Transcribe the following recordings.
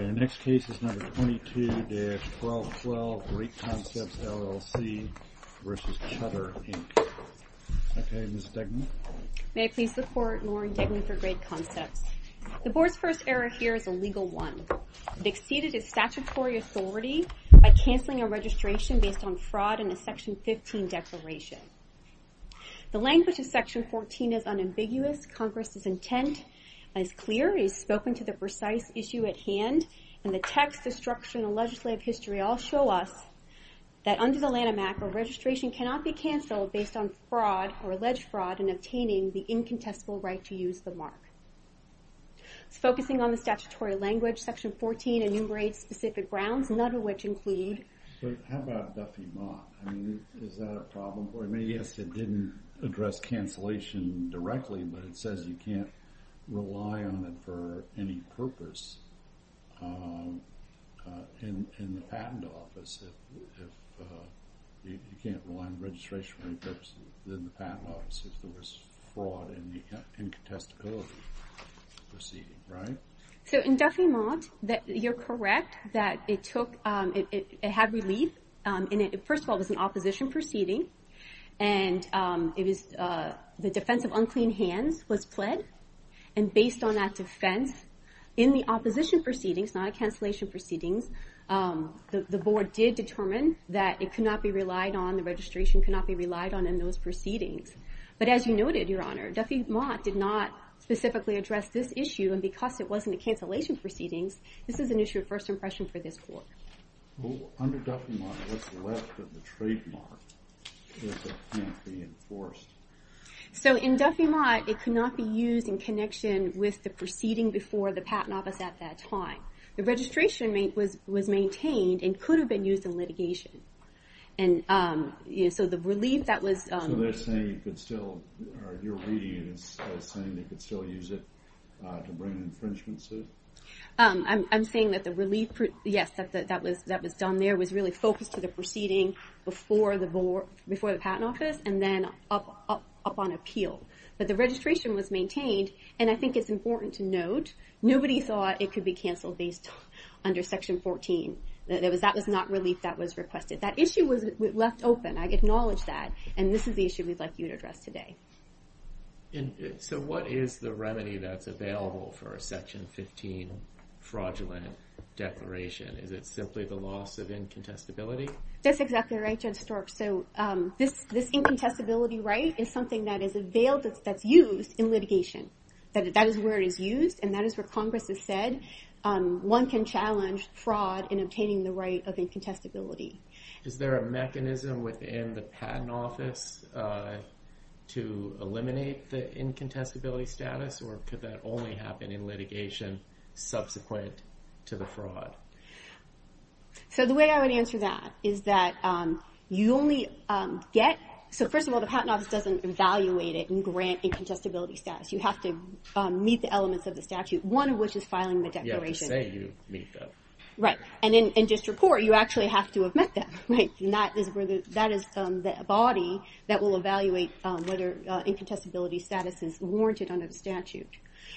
Okay, the next case is number 22-1212, Great Concepts, LLC v. Chutter, Inc. Okay, Ms. Degnan. May I please support Lauren Degnan for Great Concepts? The board's first error here is a legal one. It exceeded its statutory authority by canceling a registration based on fraud in a Section 15 declaration. The language of Section 14 is unambiguous. Congress's intent is clear. It is spoken to the precise issue at hand. And the text, the structure, and the legislative history all show us that under the Lanham Act, a registration cannot be canceled based on fraud or alleged fraud in obtaining the incontestable right to use the mark. It's focusing on the statutory language. Section 14 enumerates specific grounds, none of which include... So how about Duffy Mott? I mean, is that a problem for him? I mean, yes, it didn't address cancellation directly, but it says you can't rely on it for any purpose in the patent office. You can't rely on registration for any purpose in the patent office if there was fraud in the incontestability proceeding, right? So in Duffy Mott, you're correct that it took... First of all, it was an opposition proceeding, and the defense of unclean hands was pled, and based on that defense in the opposition proceedings, not a cancellation proceedings, the Board did determine that it could not be relied on, the registration could not be relied on in those proceedings. But as you noted, Your Honor, Duffy Mott did not specifically address this issue, and because it wasn't a cancellation proceedings, this is an issue of first impression for this Court. Under Duffy Mott, what's left of the trademark if it can't be enforced? So in Duffy Mott, it could not be used in connection with the proceeding before the patent office at that time. The registration was maintained and could have been used in litigation. And so the relief that was... So they're saying you could still... You're reading it as saying they could still use it to bring an infringement suit? I'm saying that the relief, yes, that was done there, was really focused to the proceeding before the patent office, and then up on appeal. But the registration was maintained, and I think it's important to note, nobody thought it could be canceled based under Section 14. That was not relief that was requested. That issue was left open, I acknowledge that, and this is the issue we'd like you to address today. So what is the remedy that's available for a Section 15 fraudulent declaration? Is it simply the loss of incontestability? That's exactly right, Judge Stork. So this incontestability right is something that's used in litigation. That is where it is used, and that is where Congress has said one can challenge fraud in obtaining the right of incontestability. Is there a mechanism within the patent office to eliminate the incontestability status, or could that only happen in litigation subsequent to the fraud? So the way I would answer that is that you only get... So first of all, the patent office doesn't evaluate it and grant incontestability status. You have to meet the elements of the statute, one of which is filing the declaration. You have to say you meet them. Right, and in district court, you actually have to have met them. That is the body that will evaluate whether incontestability status is warranted under the statute.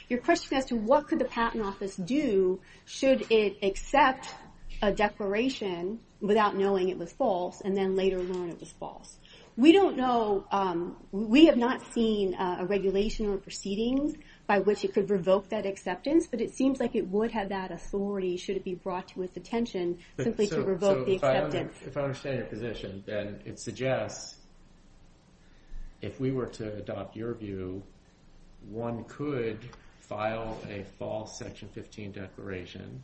Your question as to what could the patent office do should it accept a declaration without knowing it was false, and then later learn it was false. We don't know. We have not seen a regulation or proceedings by which it could revoke that acceptance, but it seems like it would have that authority should it be brought to its attention simply to revoke the acceptance. So if I understand your position, then it suggests if we were to adopt your view, one could file a false Section 15 declaration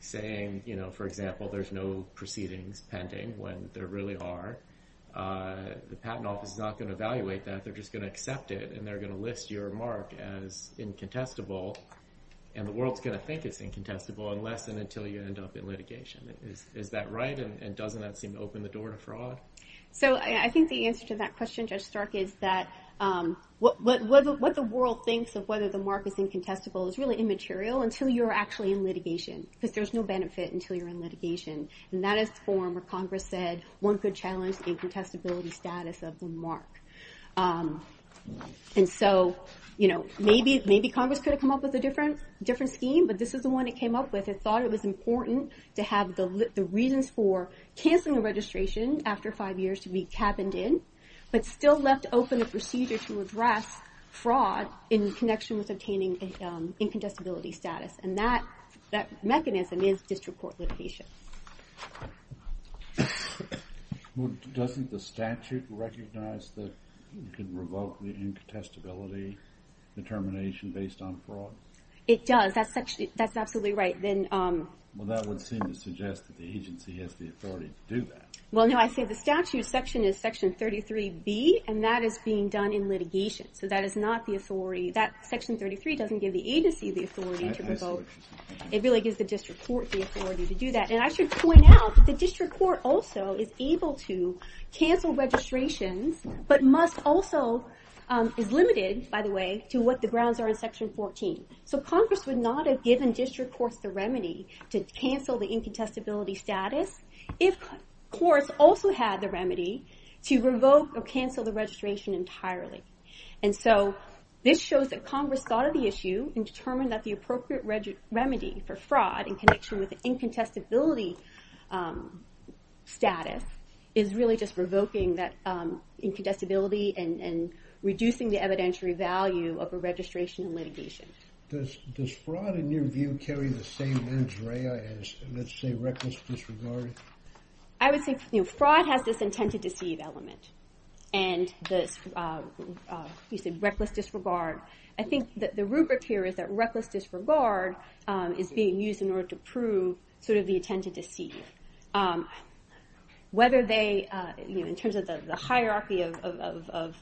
saying, for example, there's no proceedings pending when there really are. The patent office is not going to evaluate that. They're just going to accept it, and they're going to list your remark as incontestable, and the world's going to think it's incontestable unless and until you end up in litigation. Is that right, and doesn't that seem to open the door to fraud? So I think the answer to that question, Judge Stark, is that what the world thinks of whether the mark is incontestable is really immaterial until you're actually in litigation because there's no benefit until you're in litigation. And that is the form where Congress said one could challenge incontestability status of the mark. And so maybe Congress could have come up with a different scheme, but this is the one it came up with. It thought it was important to have the reasons for canceling a registration after five years to be cabined in, but still left open a procedure to address fraud in connection with obtaining incontestability status. And that mechanism is district court litigation. Well, doesn't the statute recognize that you can revoke the incontestability determination based on fraud? It does. That's absolutely right. Well, that would seem to suggest that the agency has the authority to do that. Well, no, I say the statute section is Section 33B, and that is being done in litigation. So that is not the authority. Section 33 doesn't give the agency the authority to revoke. It really gives the district court the authority to do that. And I should point out that the district court also is able to cancel registrations, but must also, is limited, by the way, to what the grounds are in Section 14. So Congress would not have given district courts the remedy to cancel the incontestability status if courts also had the remedy to revoke or cancel the registration entirely. And so this shows that Congress thought of the issue and determined that the appropriate remedy for fraud in connection with incontestability status is really just revoking that incontestability and reducing the evidentiary value of a registration in litigation. Does fraud, in your view, carry the same injury as, let's say, reckless disregard? I would say fraud has this intent to deceive element. And you said reckless disregard. I think that the rubric here is that reckless disregard is being used in order to prove sort of the intent to deceive. Whether they, in terms of the hierarchy of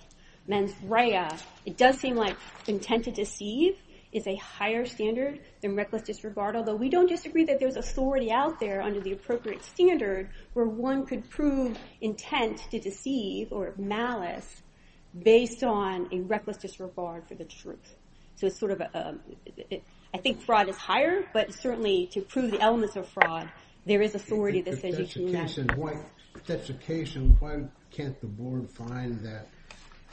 mens rea, it does seem like intent to deceive is a higher standard than reckless disregard, although we don't disagree that there's authority out there under the appropriate standard where one could prove intent to deceive or malice based on a reckless disregard for the truth. So it's sort of, I think fraud is higher, but certainly to prove the elements of fraud, there is authority. If that's the case, then why can't the board find that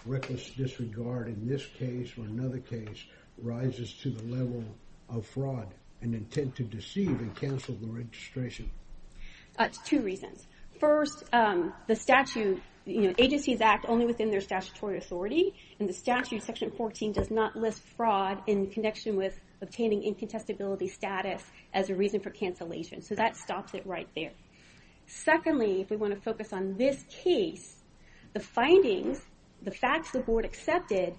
reckless disregard in this case or another case rises to the level of fraud and intent to deceive and cancel the registration? Two reasons. First, the statute, agencies act only within their statutory authority. And the statute, section 14, does not list fraud in connection with obtaining incontestability status as a reason for cancellation. So that stops it right there. Secondly, if we want to focus on this case, the findings, the facts the board accepted,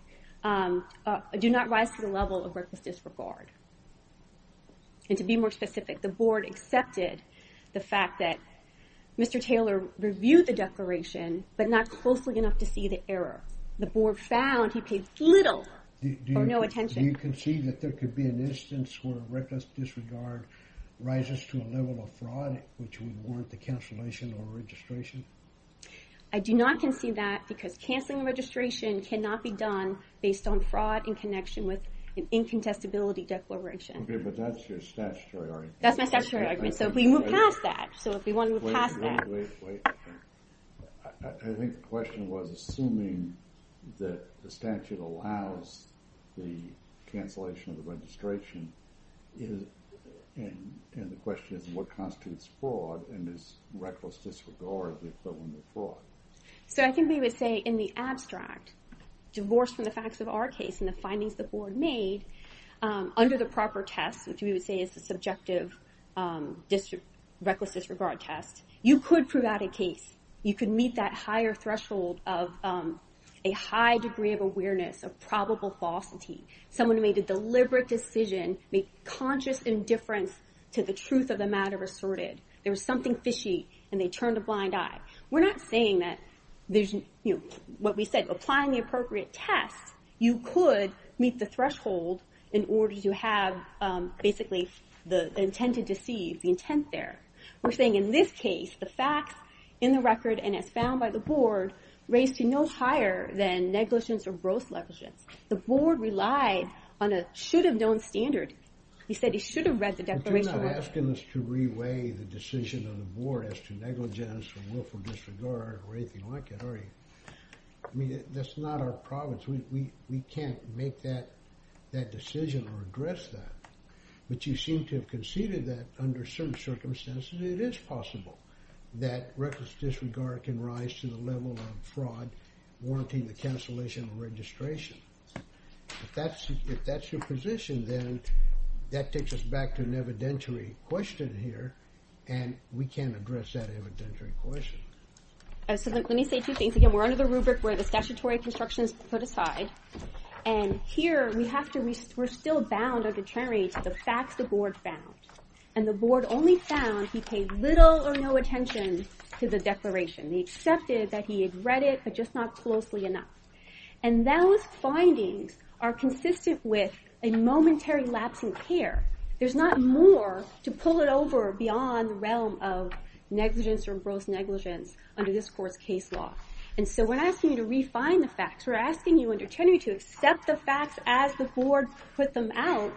do not rise to the level of reckless disregard. And to be more specific, the board accepted the fact that Mr. Taylor reviewed the declaration, but not closely enough to see the error. The board found he paid little or no attention. Do you concede that there could be an instance where reckless disregard rises to a level of fraud which would warrant the cancellation or registration? I do not concede that because canceling the registration cannot be done based on fraud in connection with an incontestability declaration. Okay, but that's your statutory argument. That's my statutory argument, so if we move past that. So if we want to move past that. Wait, wait, wait. I think the question was, assuming that the statute allows the cancellation of the registration, and the question is, what constitutes fraud and is reckless disregard the equivalent of fraud? So I think we would say in the abstract, divorced from the facts of our case and the findings the board made, under the proper test, which we would say is the subjective reckless disregard test, you could prove out a case. You could meet that higher threshold of a high degree of awareness of probable falsity. Someone made a deliberate decision, made conscious indifference to the truth of the matter asserted. There was something fishy, and they turned a blind eye. We're not saying that there's, you know, what we said, applying the appropriate test, you could meet the threshold in order to have, basically, the intent to deceive, the intent there. We're saying in this case, the facts in the record and as found by the board, raised to no higher than negligence or gross negligence. The board relied on a should-have-known standard. He said he should have read the declaration. But you're not asking us to re-weigh the decision of the board as to negligence or willful disregard or anything like it, are you? I mean, that's not our province. We can't make that decision or address that. But you seem to have conceded that, under certain circumstances, it is possible that reckless disregard can rise to the level of fraud, warranting the cancellation of registration. If that's your position, then that takes us back to an evidentiary question here, and we can't address that evidentiary question. So let me say two things. Again, we're under the rubric where the statutory construction is put aside. And here, we're still bound or deteriorated to the facts the board found. And the board only found he paid little or no attention to the declaration. He accepted that he had read it, but just not closely enough. And those findings are consistent with a momentary lapse in care. There's not more to pull it over beyond the realm of negligence or gross negligence under this court's case law. And so we're not asking you to refine the facts. We're asking you, under Tenery, to accept the facts as the board put them out,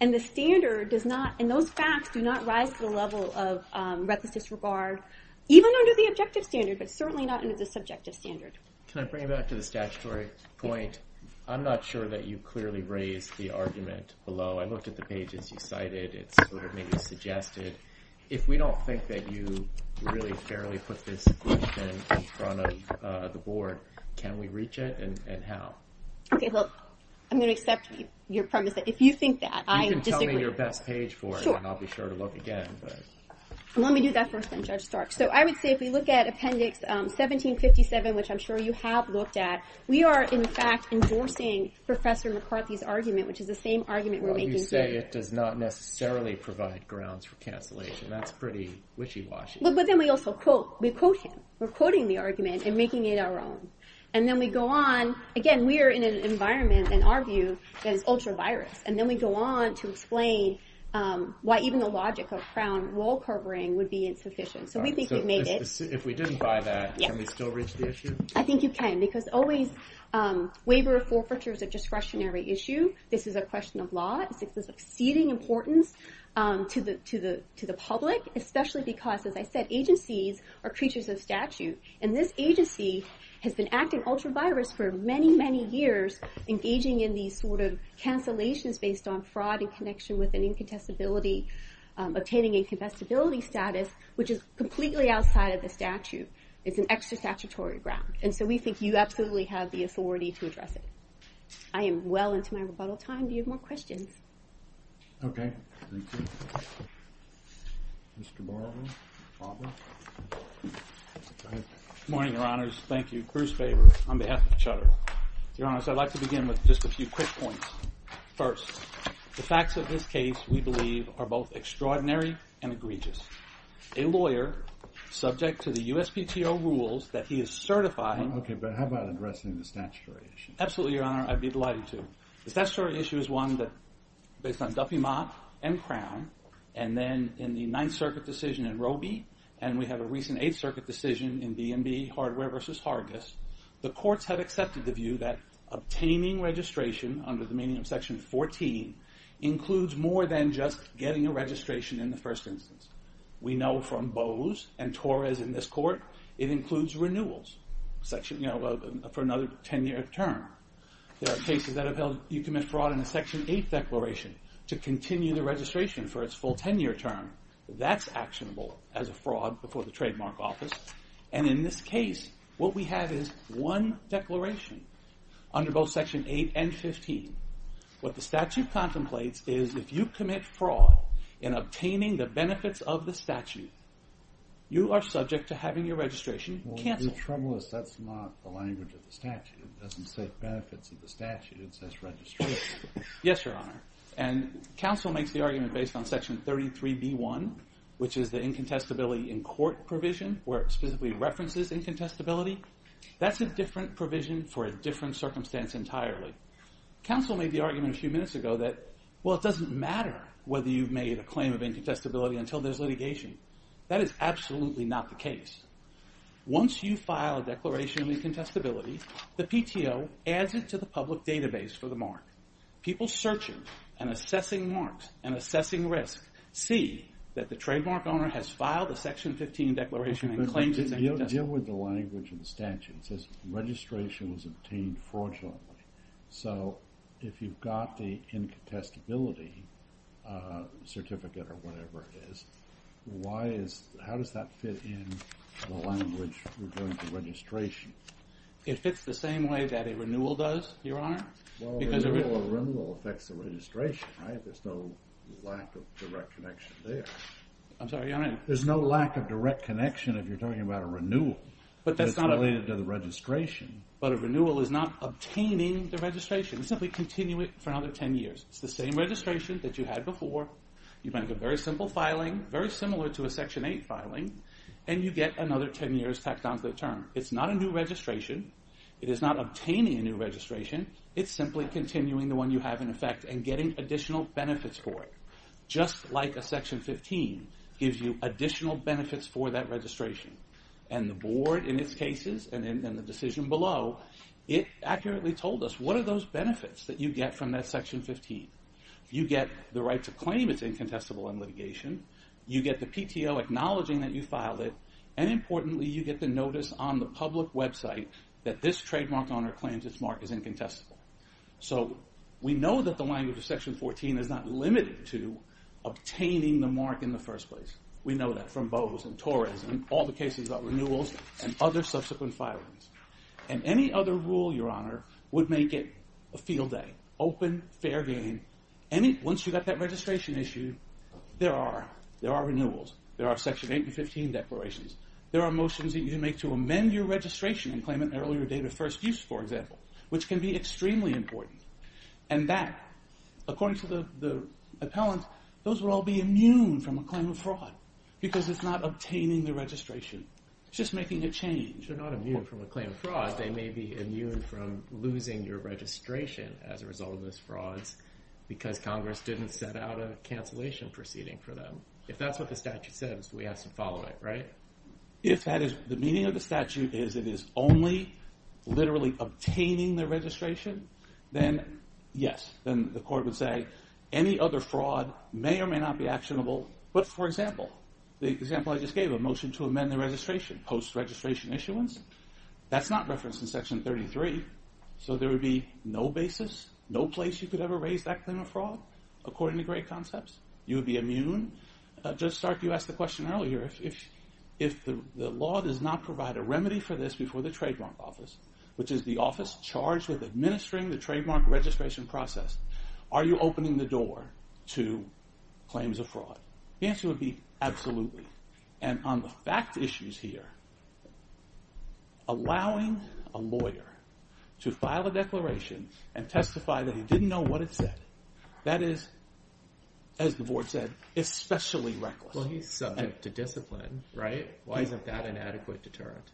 and the standard does not, and those facts do not rise to the level of reckless disregard, even under the objective standard, but certainly not under the subjective standard. Can I bring you back to the statutory point? I'm not sure that you clearly raised the argument below. I looked at the pages you cited. It sort of maybe suggested, if we don't think that you really fairly put this group in in front of the board, can we reach it, and how? Okay, well, I'm going to accept your premise that if you think that, I disagree. You can tell me your best page for it, and I'll be sure to look again. Let me do that first, then, Judge Stark. So I would say if we look at Appendix 1757, which I'm sure you have looked at, we are, in fact, endorsing Professor McCarthy's argument, which is the same argument we're making today. It does not necessarily provide grounds for cancellation. That's pretty wishy-washy. But then we also quote. We quote him. We're quoting the argument and making it our own. And then we go on. Again, we are in an environment, in our view, that is ultra-virus. And then we go on to explain why even the logic of Crown rule-covering would be insufficient. So we think we've made it. If we didn't buy that, can we still reach the issue? I think you can, because always, waiver of forfeiture is a discretionary issue. This is a question of law. It's of exceeding importance to the public, especially because, as I said, agencies are creatures of statute. And this agency has been acting ultra-virus for many, many years, engaging in these sort of cancellations based on fraud in connection with an incontestability, obtaining incontestability status, which is completely outside of the statute. It's an extra-statutory ground. And so we think you absolutely have the authority to address it. I am well into my rebuttal time. Do you have more questions? Okay. Thank you. Mr. Barber? Barber? Go ahead. Good morning, Your Honors. Thank you. Cruise favor on behalf of Cheddar. Your Honors, I'd like to begin with just a few quick points. First, the facts of this case, we believe, are both extraordinary and egregious. A lawyer, subject to the USPTO rules that he is certified... Okay, but how about addressing the statutory issue? Absolutely, Your Honor. I'd be delighted to. The statutory issue is one that, based on Duffy Mott and Crown, and then in the Ninth Circuit decision in Roby, and we have a recent Eighth Circuit decision in B&B Hardware v. Hargis, the courts have accepted the view that obtaining registration under the meaning of Section 14 includes more than just getting a registration in the first instance. We know from Bose and Torres in this court, it includes renewals for another 10-year term. There are cases that have held you commit fraud in a Section 8 declaration to continue the registration for its full 10-year term. That's actionable as a fraud before the trademark office. And in this case, what we have is one declaration under both Section 8 and 15. What the statute contemplates is if you commit fraud in obtaining the benefits of the statute, you are subject to having your registration canceled. Well, the trouble is that's not the language of the statute. It doesn't say benefits of the statute. It says registration. Yes, Your Honor. And counsel makes the argument based on Section 33b1, which is the incontestability in court provision, where it specifically references incontestability. That's a different provision for a different circumstance entirely. Counsel made the argument a few minutes ago that, well, it doesn't matter whether you've made a claim of incontestability until there's litigation. That is absolutely not the case. Once you file a declaration of incontestability, the PTO adds it to the public database for the mark. People searching and assessing marks and assessing risk see that the trademark owner has filed a Section 15 declaration and claims it's incontestable. But deal with the language of the statute. It says registration was obtained fraudulently. So if you've got the incontestability certificate or whatever it is, how does that fit in the language regarding the registration? It fits the same way that a renewal does, Your Honor. Well, a renewal affects the registration, right? There's no lack of direct connection there. I'm sorry, Your Honor? There's no lack of direct connection if you're talking about a renewal that's related to the registration. But a renewal is not obtaining the registration. You simply continue it for another 10 years. It's the same registration that you had before. You make a very simple filing, very similar to a Section 8 filing, and you get another 10 years tacked on to the term. It's not a new registration. It is not obtaining a new registration. It's simply continuing the one you have in effect and getting additional benefits for it, just like a Section 15 gives you additional benefits for that registration. And the Board, in its cases, and in the decision below, it accurately told us, what are those benefits that you get from that Section 15? You get the right to claim it's incontestable in litigation. You get the PTO acknowledging that you filed it. And importantly, you get the notice on the public website that this trademark owner claims its mark is incontestable. So we know that the language of Section 14 is not limited to obtaining the mark in the first place. We know that from Bowe's and Torres and all the cases about renewals and other subsequent filings. And any other rule, Your Honor, would make it a field day. Open, fair game. Once you've got that registration issued, there are renewals. There are Section 8 and 15 declarations. There are motions that you make to amend your registration and claim an earlier date of first use, for example, which can be extremely important. And that, according to the appellant, those will all be immune from a claim of fraud because it's not obtaining the registration. It's just making a change. They're not immune from a claim of fraud. They may be immune from losing your registration as a result of those frauds because Congress didn't set out a cancellation proceeding for them. If that's what the statute says, we have to follow it, right? If that is the meaning of the statute is it is only literally obtaining the registration, then yes, then the court would say any other fraud may or may not be actionable. But, for example, the example I just gave, a motion to amend the registration, post-registration issuance, that's not referenced in Section 33, so there would be no basis, no place you could ever raise that claim of fraud, according to gray concepts. You would be immune. Judge Stark, you asked the question earlier. If the law does not provide a remedy for this before the trademark office, which is the office charged with administering the trademark registration process, are you opening the door to claims of fraud? The answer would be absolutely. And on the fact issues here, allowing a lawyer to file a declaration and testify that he didn't know what it said, that is, as the board said, especially reckless. Well, he's subject to discipline, right? Why isn't that an adequate deterrent?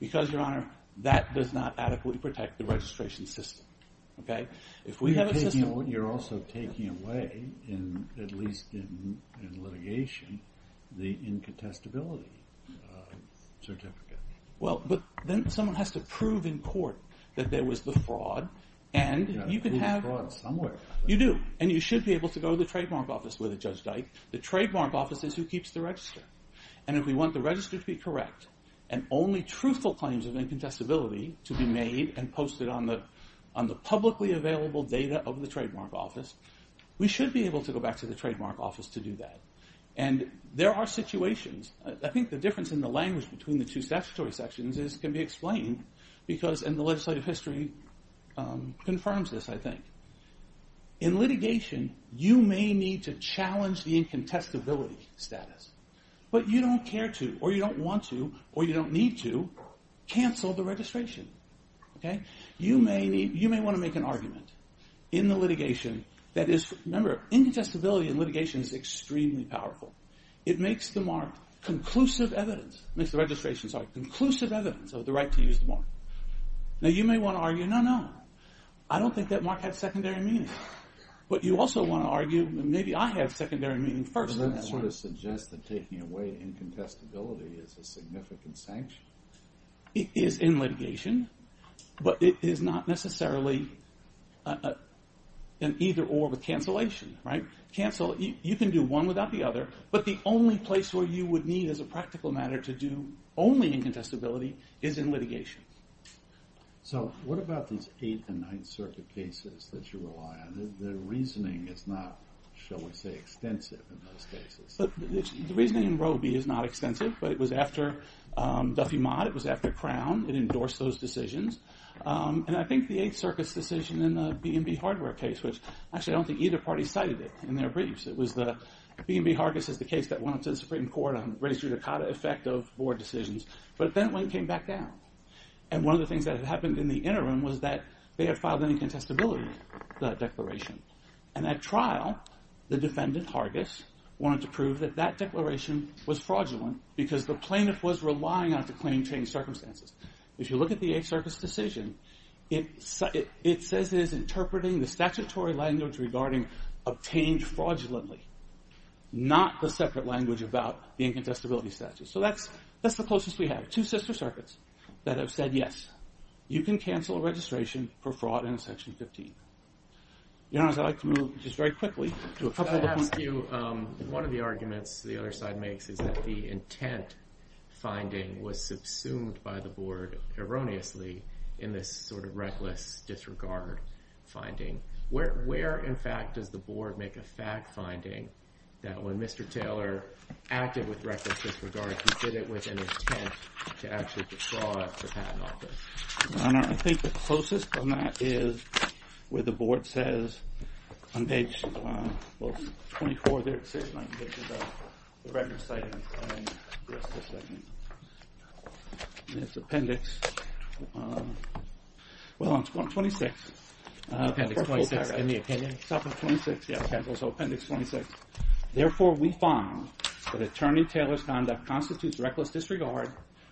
Because, Your Honor, that does not adequately protect the registration system, okay? If we have a system... You're also taking away, at least in litigation, the incontestability certificate. Well, but then someone has to prove in court that there was the fraud, and you can have... And you should be able to go to the trademark office with it, Judge Dyke. The trademark office is who keeps the register. And if we want the register to be correct, and only truthful claims of incontestability to be made and posted on the publicly available data of the trademark office, we should be able to go back to the trademark office to do that. And there are situations... I think the difference in the language between the two statutory sections can be explained because... And the legislative history confirms this, I think. In litigation, you may need to challenge the incontestability status. But you don't care to, or you don't want to, or you don't need to, cancel the registration. Okay? You may want to make an argument in the litigation that is... Remember, incontestability in litigation is extremely powerful. It makes the mark. Conclusive evidence... Makes the registration, sorry. Conclusive evidence of the right to use the mark. Now, you may want to argue, no, no, no. I don't think that mark has secondary meaning. But you also want to argue, maybe I have secondary meaning first. And that sort of suggests that taking away incontestability is a significant sanction. It is in litigation, but it is not necessarily an either-or with cancellation, right? You can do one without the other, but the only place where you would need, as a practical matter, to do only incontestability is in litigation. So, what about these 8th and 9th Circuit cases that you rely on? The reasoning is not, shall we say, extensive in those cases. The reasoning in Roe v. is not extensive, but it was after Duffy Mott. It was after Crown. It endorsed those decisions. And I think the 8th Circuit's decision in the B&B Hardware case, which, actually, I don't think either party cited it in their briefs. It was the B&B Hardware case that went up to the Supreme Court and raised your Dakota effect of board decisions. But then it came back down. And one of the things that had happened in the interim was that they had filed an incontestability declaration. And at trial, the defendant, Hargis, wanted to prove that that declaration was fraudulent because the plaintiff was relying on it to claim changed circumstances. If you look at the 8th Circuit's decision, it says it is interpreting the statutory language regarding obtained fraudulently, not the separate language about the incontestability statute. So, that's the closest we have. There are two sister circuits that have said, yes, you can cancel a registration for fraud in Section 15. Your Honor, I'd like to move just very quickly to a couple of the briefs. Can I ask you, one of the arguments the other side makes is that the intent finding was subsumed by the board erroneously in this sort of reckless disregard finding. Where, in fact, does the board make a fact finding that when Mr. Taylor acted with reckless disregard, he did it with an intent to actually withdraw it from patent office? Your Honor, I think the closest from that is where the board says on page, well, 24, there it says, and I can get you the record site and the rest of the statement. And it's appendix, well, on 26. Appendix 26, correct. In the appendix. So, appendix 26. Therefore, we find that Attorney Taylor's conduct constitutes reckless disregard,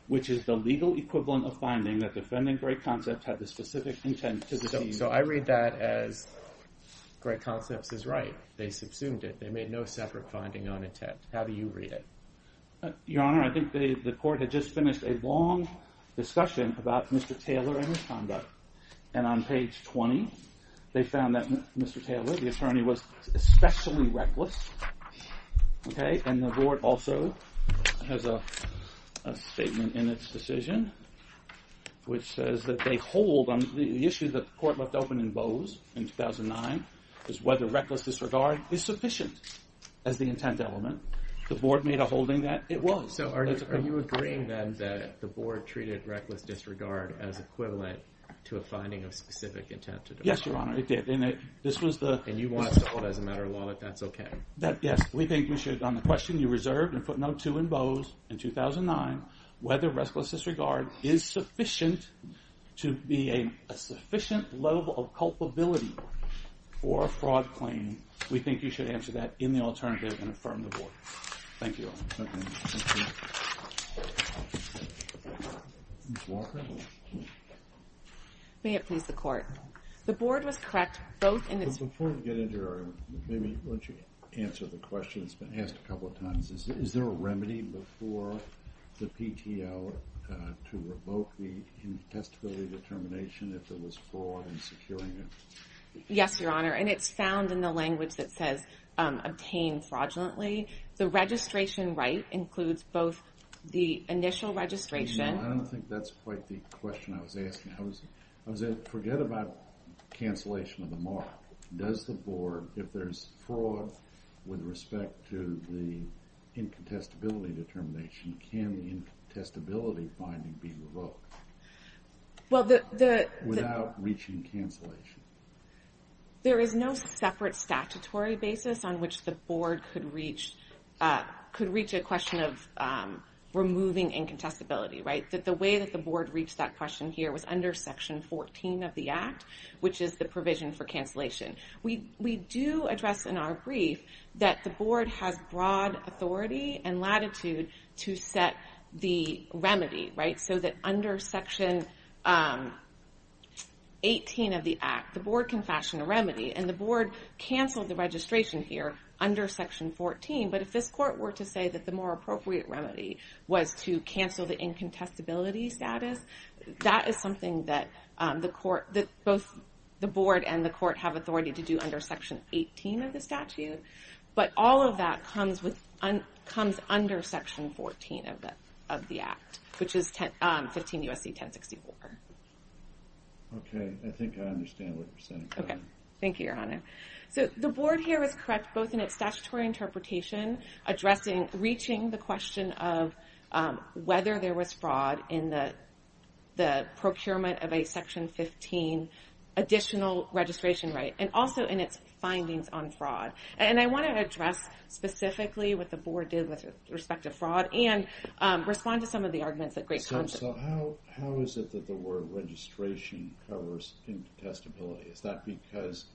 which is the legal equivalent of finding that defending Greg Concepts had the specific intent to deceive. So, I read that as Greg Concepts is right. They subsumed it. They made no separate finding on intent. How do you read it? Your Honor, I think the court had just finished a long discussion about Mr. Taylor and his conduct. And on page 20, they found that Mr. Taylor, the attorney, was especially reckless. Okay? And the board also has a statement in its decision which says that they hold on the issue that the court left open in Bowes in 2009, is whether reckless disregard is sufficient as the intent element. The board made a holding that it was. So, are you agreeing, then, that the board treated reckless disregard as equivalent to a finding of specific intent to deceive? Yes, Your Honor, it did. And this was the... And you want us to hold as a matter of law that that's okay? That, yes, we think we should, on the question you reserved and put no two in Bowes in 2009, whether reckless disregard is sufficient to be a sufficient level of culpability for a fraud claim, we think you should answer that in the alternative and affirm the board. Thank you, Your Honor. Thank you. Ms. Walker? May it please the court. The board was correct both in its... Before we get into our... Why don't you answer the question that's been asked a couple of times. Is there a remedy before the PTO to revoke the testability determination if there was fraud in securing it? Yes, Your Honor. And it's found in the language that says obtained fraudulently. The registration right includes both the initial registration... I was asking. I was... Forget about cancellation of the mark. Does the board, if there's fraud in the PTO, is there a remedy before the PTO if there's fraud with respect to the incontestability determination? Can the incontestability finding be revoked without reaching cancellation? There is no separate statutory basis on which the board could reach... Could reach a question of removing incontestability. Right? The way that the board reached that question here was under Section 14 of the Act, which is the provision for cancellation. We do address in our brief that the board has broad authority and latitude to set the remedy. Right? So that under Section 18 of the Act, the board can fashion a remedy. And the board cancelled the registration here under Section 14. But if this court were to say that the more appropriate remedy was to cancel the incontestability status, that is something that the court... that both the board and the court have authority to do under Section 18 of the statute. But all of that comes with... comes under Section 14 of the Act, which is 15 U.S.C. 1064. Okay. I think I understand what you're saying. Okay. Thank you, Your Honor. So the board here is correct both in its statutory interpretation addressing... reaching the question of whether there was fraud in the procurement of a Section 15 additional registration right. And also in its findings on fraud. And I want to address specifically what the board did with respect to fraud and respond to arguments that great counsel... So how is it that the word registration covers incontestability? Is that because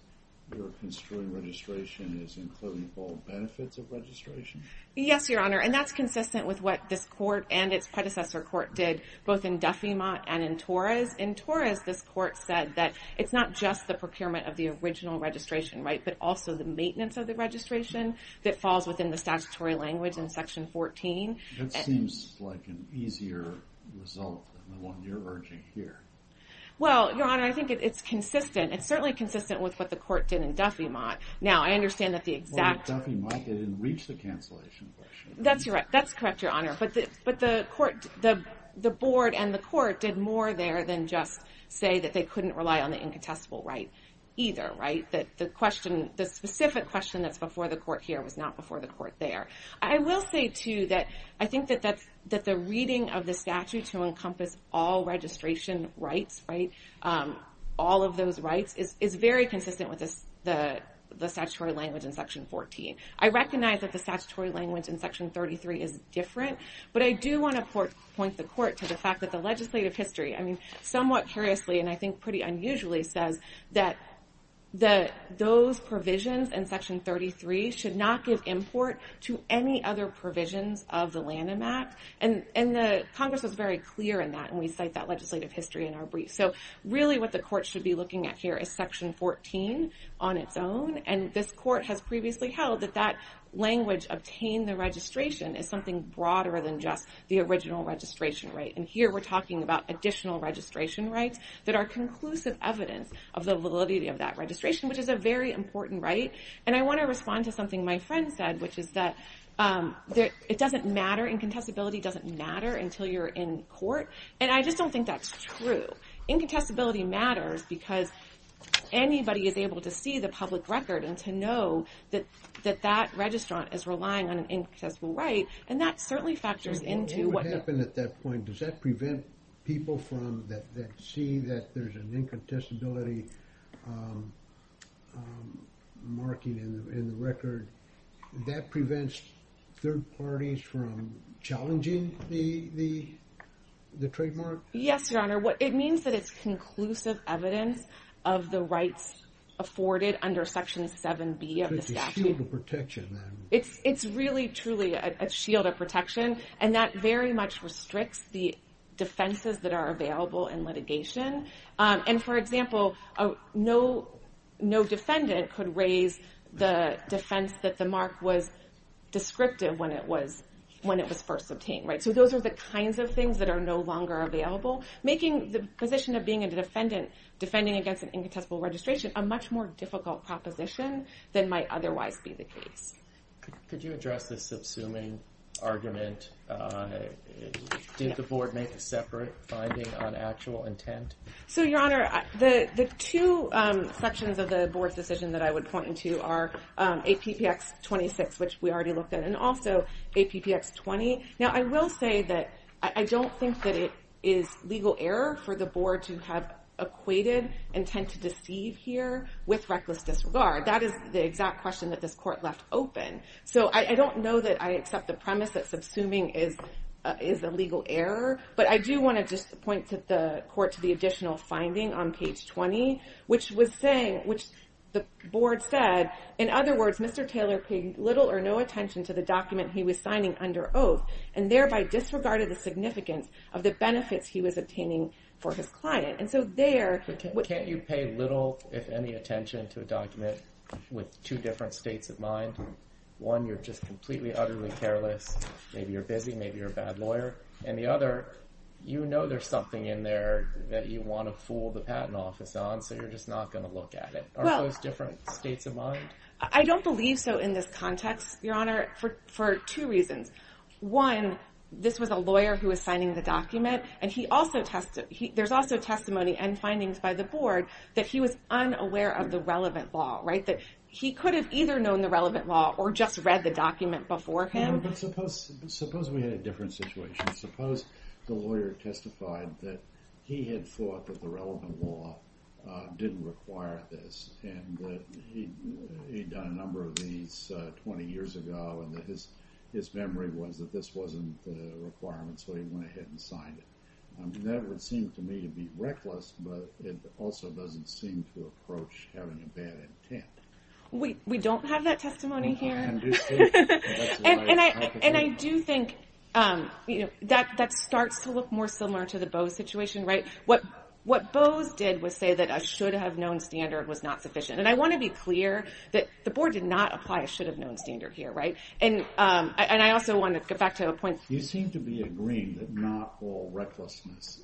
you're construing registration as including all benefits of registration? Yes, Your Honor. And that's consistent with what this court and its predecessor court did both in Duffiemont and in Torres. In Torres, this court said that it's not just the procurement of the original registration right but also the maintenance of the registration that falls within the statutory language in Section 14. That seems like an easier result than the one you're urging here. Well, Your Honor, I think it's consistent. It's certainly consistent with what the court did in Duffiemont. Now, I understand that the exact... Well, in Duffiemont, they didn't reach the cancellation question. That's correct, Your Honor. But the board and the court did more there than just say that they couldn't rely on the incontestable right either. The specific question that's before the court here was not before the court there. I will say, too, that I think that the reading of the statute to encompass all registration rights, all of those rights, is very consistent with the statutory language in Section 14. I recognize that the statutory language in Section 33 is different, but I do want to point the court to the fact that the legislative history somewhat curiously and I think pretty unusually says that those provisions in Section 33 should not give import to any other provisions of the Lanham Act, and Congress was very clear in that, and we cite that legislative history in our brief. So, really, what the court should be looking at here is Section 14 on its own, and this court has previously held that that language obtained the registration is something broader than just the original registration right, and here we're talking about additional registration rights that are conclusive evidence of the validity of that registration, which is a very important right, and I want to respond to something my friend said, which is that it doesn't matter, incontestability doesn't matter until you're in court, and I just don't think that's true. Incontestability matters because anybody is able to see the public record and to know that that registrant is relying on an incontestable right, and that certainly factors into what happens at that point. Does that prevent people from that see that there's an incontestability marking in the record? That prevents third parties from challenging the trademark? Yes, Your Honor. It means that it's conclusive evidence of the rights afforded under Section 7B of the statute. It's a shield of protection, then. It's really truly a shield of protection, and that very much restricts the defenses that are available in litigation. For example, no defendant could raise the defense that the mark was descriptive when it was first obtained. Those are the kinds of things that are no longer available, making the position of being a defendant defending against an incontestable registration a much more difficult proposition than might otherwise be the case. Could you address this subsuming argument? Did the Board make a separate finding on actual intent? So, Your Honor, the two sections of the Board's decision that I would point into are APPX 26, which we already looked at, and also APPX 20. Now, I will say that I don't think that it is legal error for the Board to have equated intent to deceive here with reckless disregard. That is the exact question that this Court left open. So, I don't know that I accept the premise that subsuming is a legal error, but I do want to just point the Court to the additional finding on page 20, which the Board said, in other words, Mr. Taylor paid little or no attention to the document he was signing under oath and thereby disregarded the significance of the benefits he was obtaining for his client. And so there... But can't you pay little, if any, attention to a document with two different states of mind? One, you're just completely, utterly careless, maybe you're busy, maybe you're a bad lawyer, and the other, you know there's something in there that you want to fool the Patent Office on, so you're just not going to look at it. Well... Are those different states of mind? I don't believe so in this context, Your Honor, for two reasons. One, this was a lawyer who was signing the document, and he also... There's also testimony and findings by the Board that he was unaware of the relevant law, right? That he could have either known the relevant law or just read the document before him. But suppose we had a different situation. Suppose the lawyer testified that he had thought that the relevant law didn't require this, and that he'd done a number of these 20 years ago and that his memory was that this wasn't the requirement, so he went ahead and signed it. That would seem to me to be reckless, but it also doesn't seem to approach having a bad intent. We don't have that testimony here. And I do think that starts to look more similar to the Bose situation, right? What Bose did was say that a should have known standard was not sufficient. And I want to be clear that the board did not apply a should have known standard here, right? And I also want to get back to a point. You seem to be agreeing that not all recklessness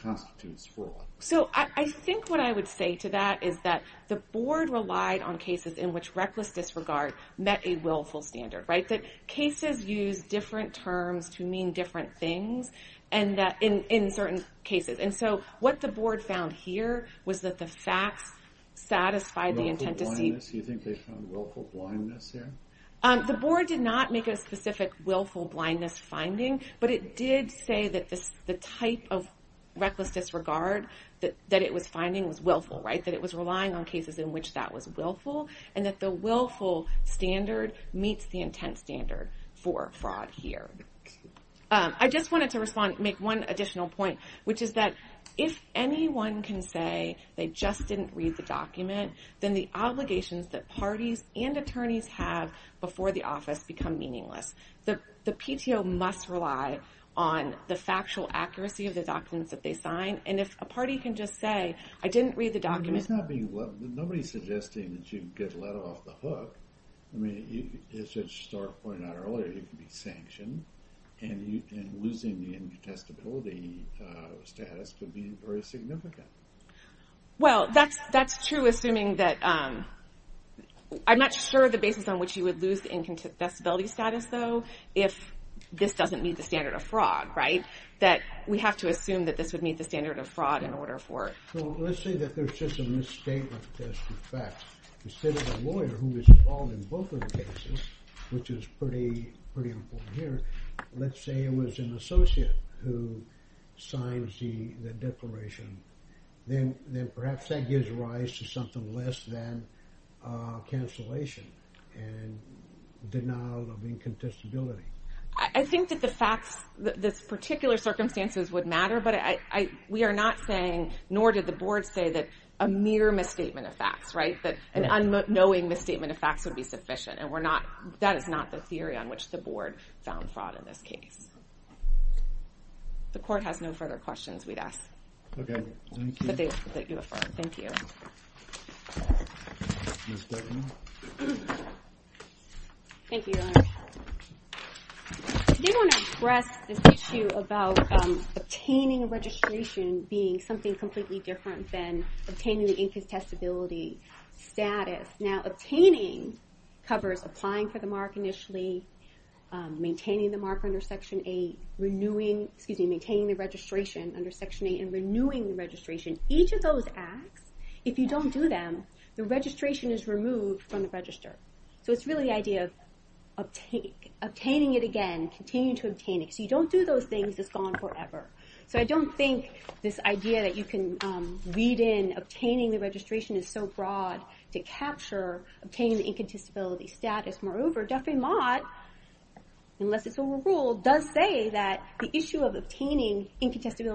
constitutes fraud. So I think what I would say to that is that the board relied on cases in which reckless disregard met a willful standard, right? That cases use different terms to mean different things and that in certain cases. And so what the board found the facts satisfied the intent to see... Willful blindness? You think they found willful blindness here? The board did not make a specific willful blindness finding, but it did say that the type of reckless disregard that it was finding was willful, right? That it was relying on cases in which that was willful and that the willful standard meets the intent standard for fraud here. I just wanted to make one additional point, which is that if anyone can say they just didn't read the document, then the obligations that parties and attorneys have before the office become meaningless. The PTO must rely on the factual accuracy of the documents that they sign, and if a doesn't get let off the hook, as you pointed out earlier, you can be sanctioned, and losing the incontestability status could be very significant. Well, that's true assuming that I'm not sure the basis on which you would lose the incontestability status, though, if this doesn't meet the standard of fraud, right? We have to assume that this would meet the standard of fraud in order for it. Well, let's say that there's just a misstatement test of facts. Instead of a lawyer who is involved in both of the cases, which is pretty important here, let's say it was an associate who signs the declaration, then perhaps that gives rise to something less than cancellation, and denial of incontestability. I think that the facts, the particular circumstances would matter, but we are not saying, nor did the board say, that a mere misstatement of facts, right? That an unknowing misstatement of facts would be sufficient, and that is not the theory on which the board found fraud in this case. Today I want to address this issue about obtaining a registration being something completely different than obtaining the incontestability status. Now, obtaining covers applying for the mark initially, maintaining the mark under Section 8, maintaining the registration under Section 8, and renewing the registration. Each of those acts, if you don't do them, the registration is removed from the register. So it's really the idea of obtaining it again, continuing to obtain it, so you don't do those things, it's gone forever. So I don't think this idea that you can read in obtaining the registration is so broad to capture obtaining the incontestability status. Moreover, Duffy Mott, unless it's overruled, does say that the issue of obtaining the registration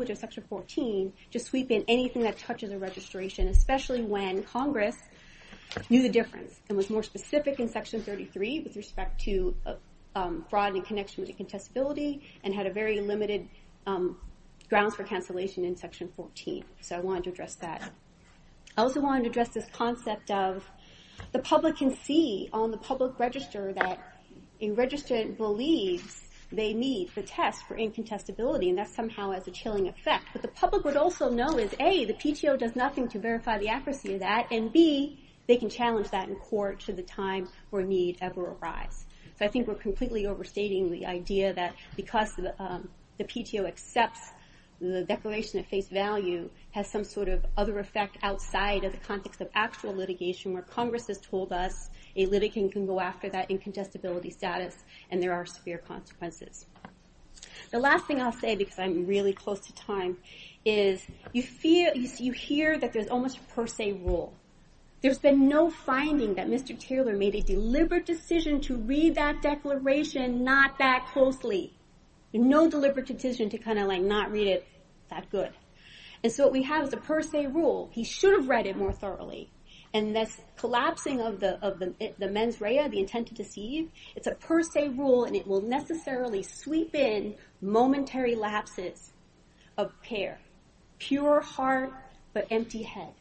under Section 14 to sweep in anything that touches a registration, especially when Congress knew the difference and was more specific in Section 33 with respect to broadening connection with incontestability and had a very limited grounds for cancellation in Section 14. So I wanted to address that. I also wanted to address this idea that the PTO does nothing to verify the accuracy of that and B, they can challenge that in court should the time or need ever arise. So I think we're completely overstating the idea that because the PTO accepts the declaration of face value has some sort of other effect outside of the context of actual litigation where Congress has told us a litigant can go after that incontestability status and there are severe consequences. The last thing I'll say because I'm really close to time is you hear that there's almost a per se rule. There's been no finding that Mr. Taylor made a deliberate decision to read that declaration not that closely. No deliberate decision to read that declaration. It's a per se rule and it will necessarily sweep in momentary lapses of care. Pure heart but empty head.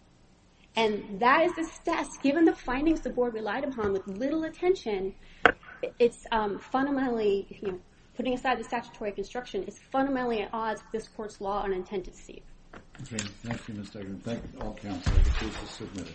And that is the status given the findings the board relied upon with little attention it's fundamentally putting aside the statutory construction it's fundamentally at odds with this court's law and the construction. Thank you.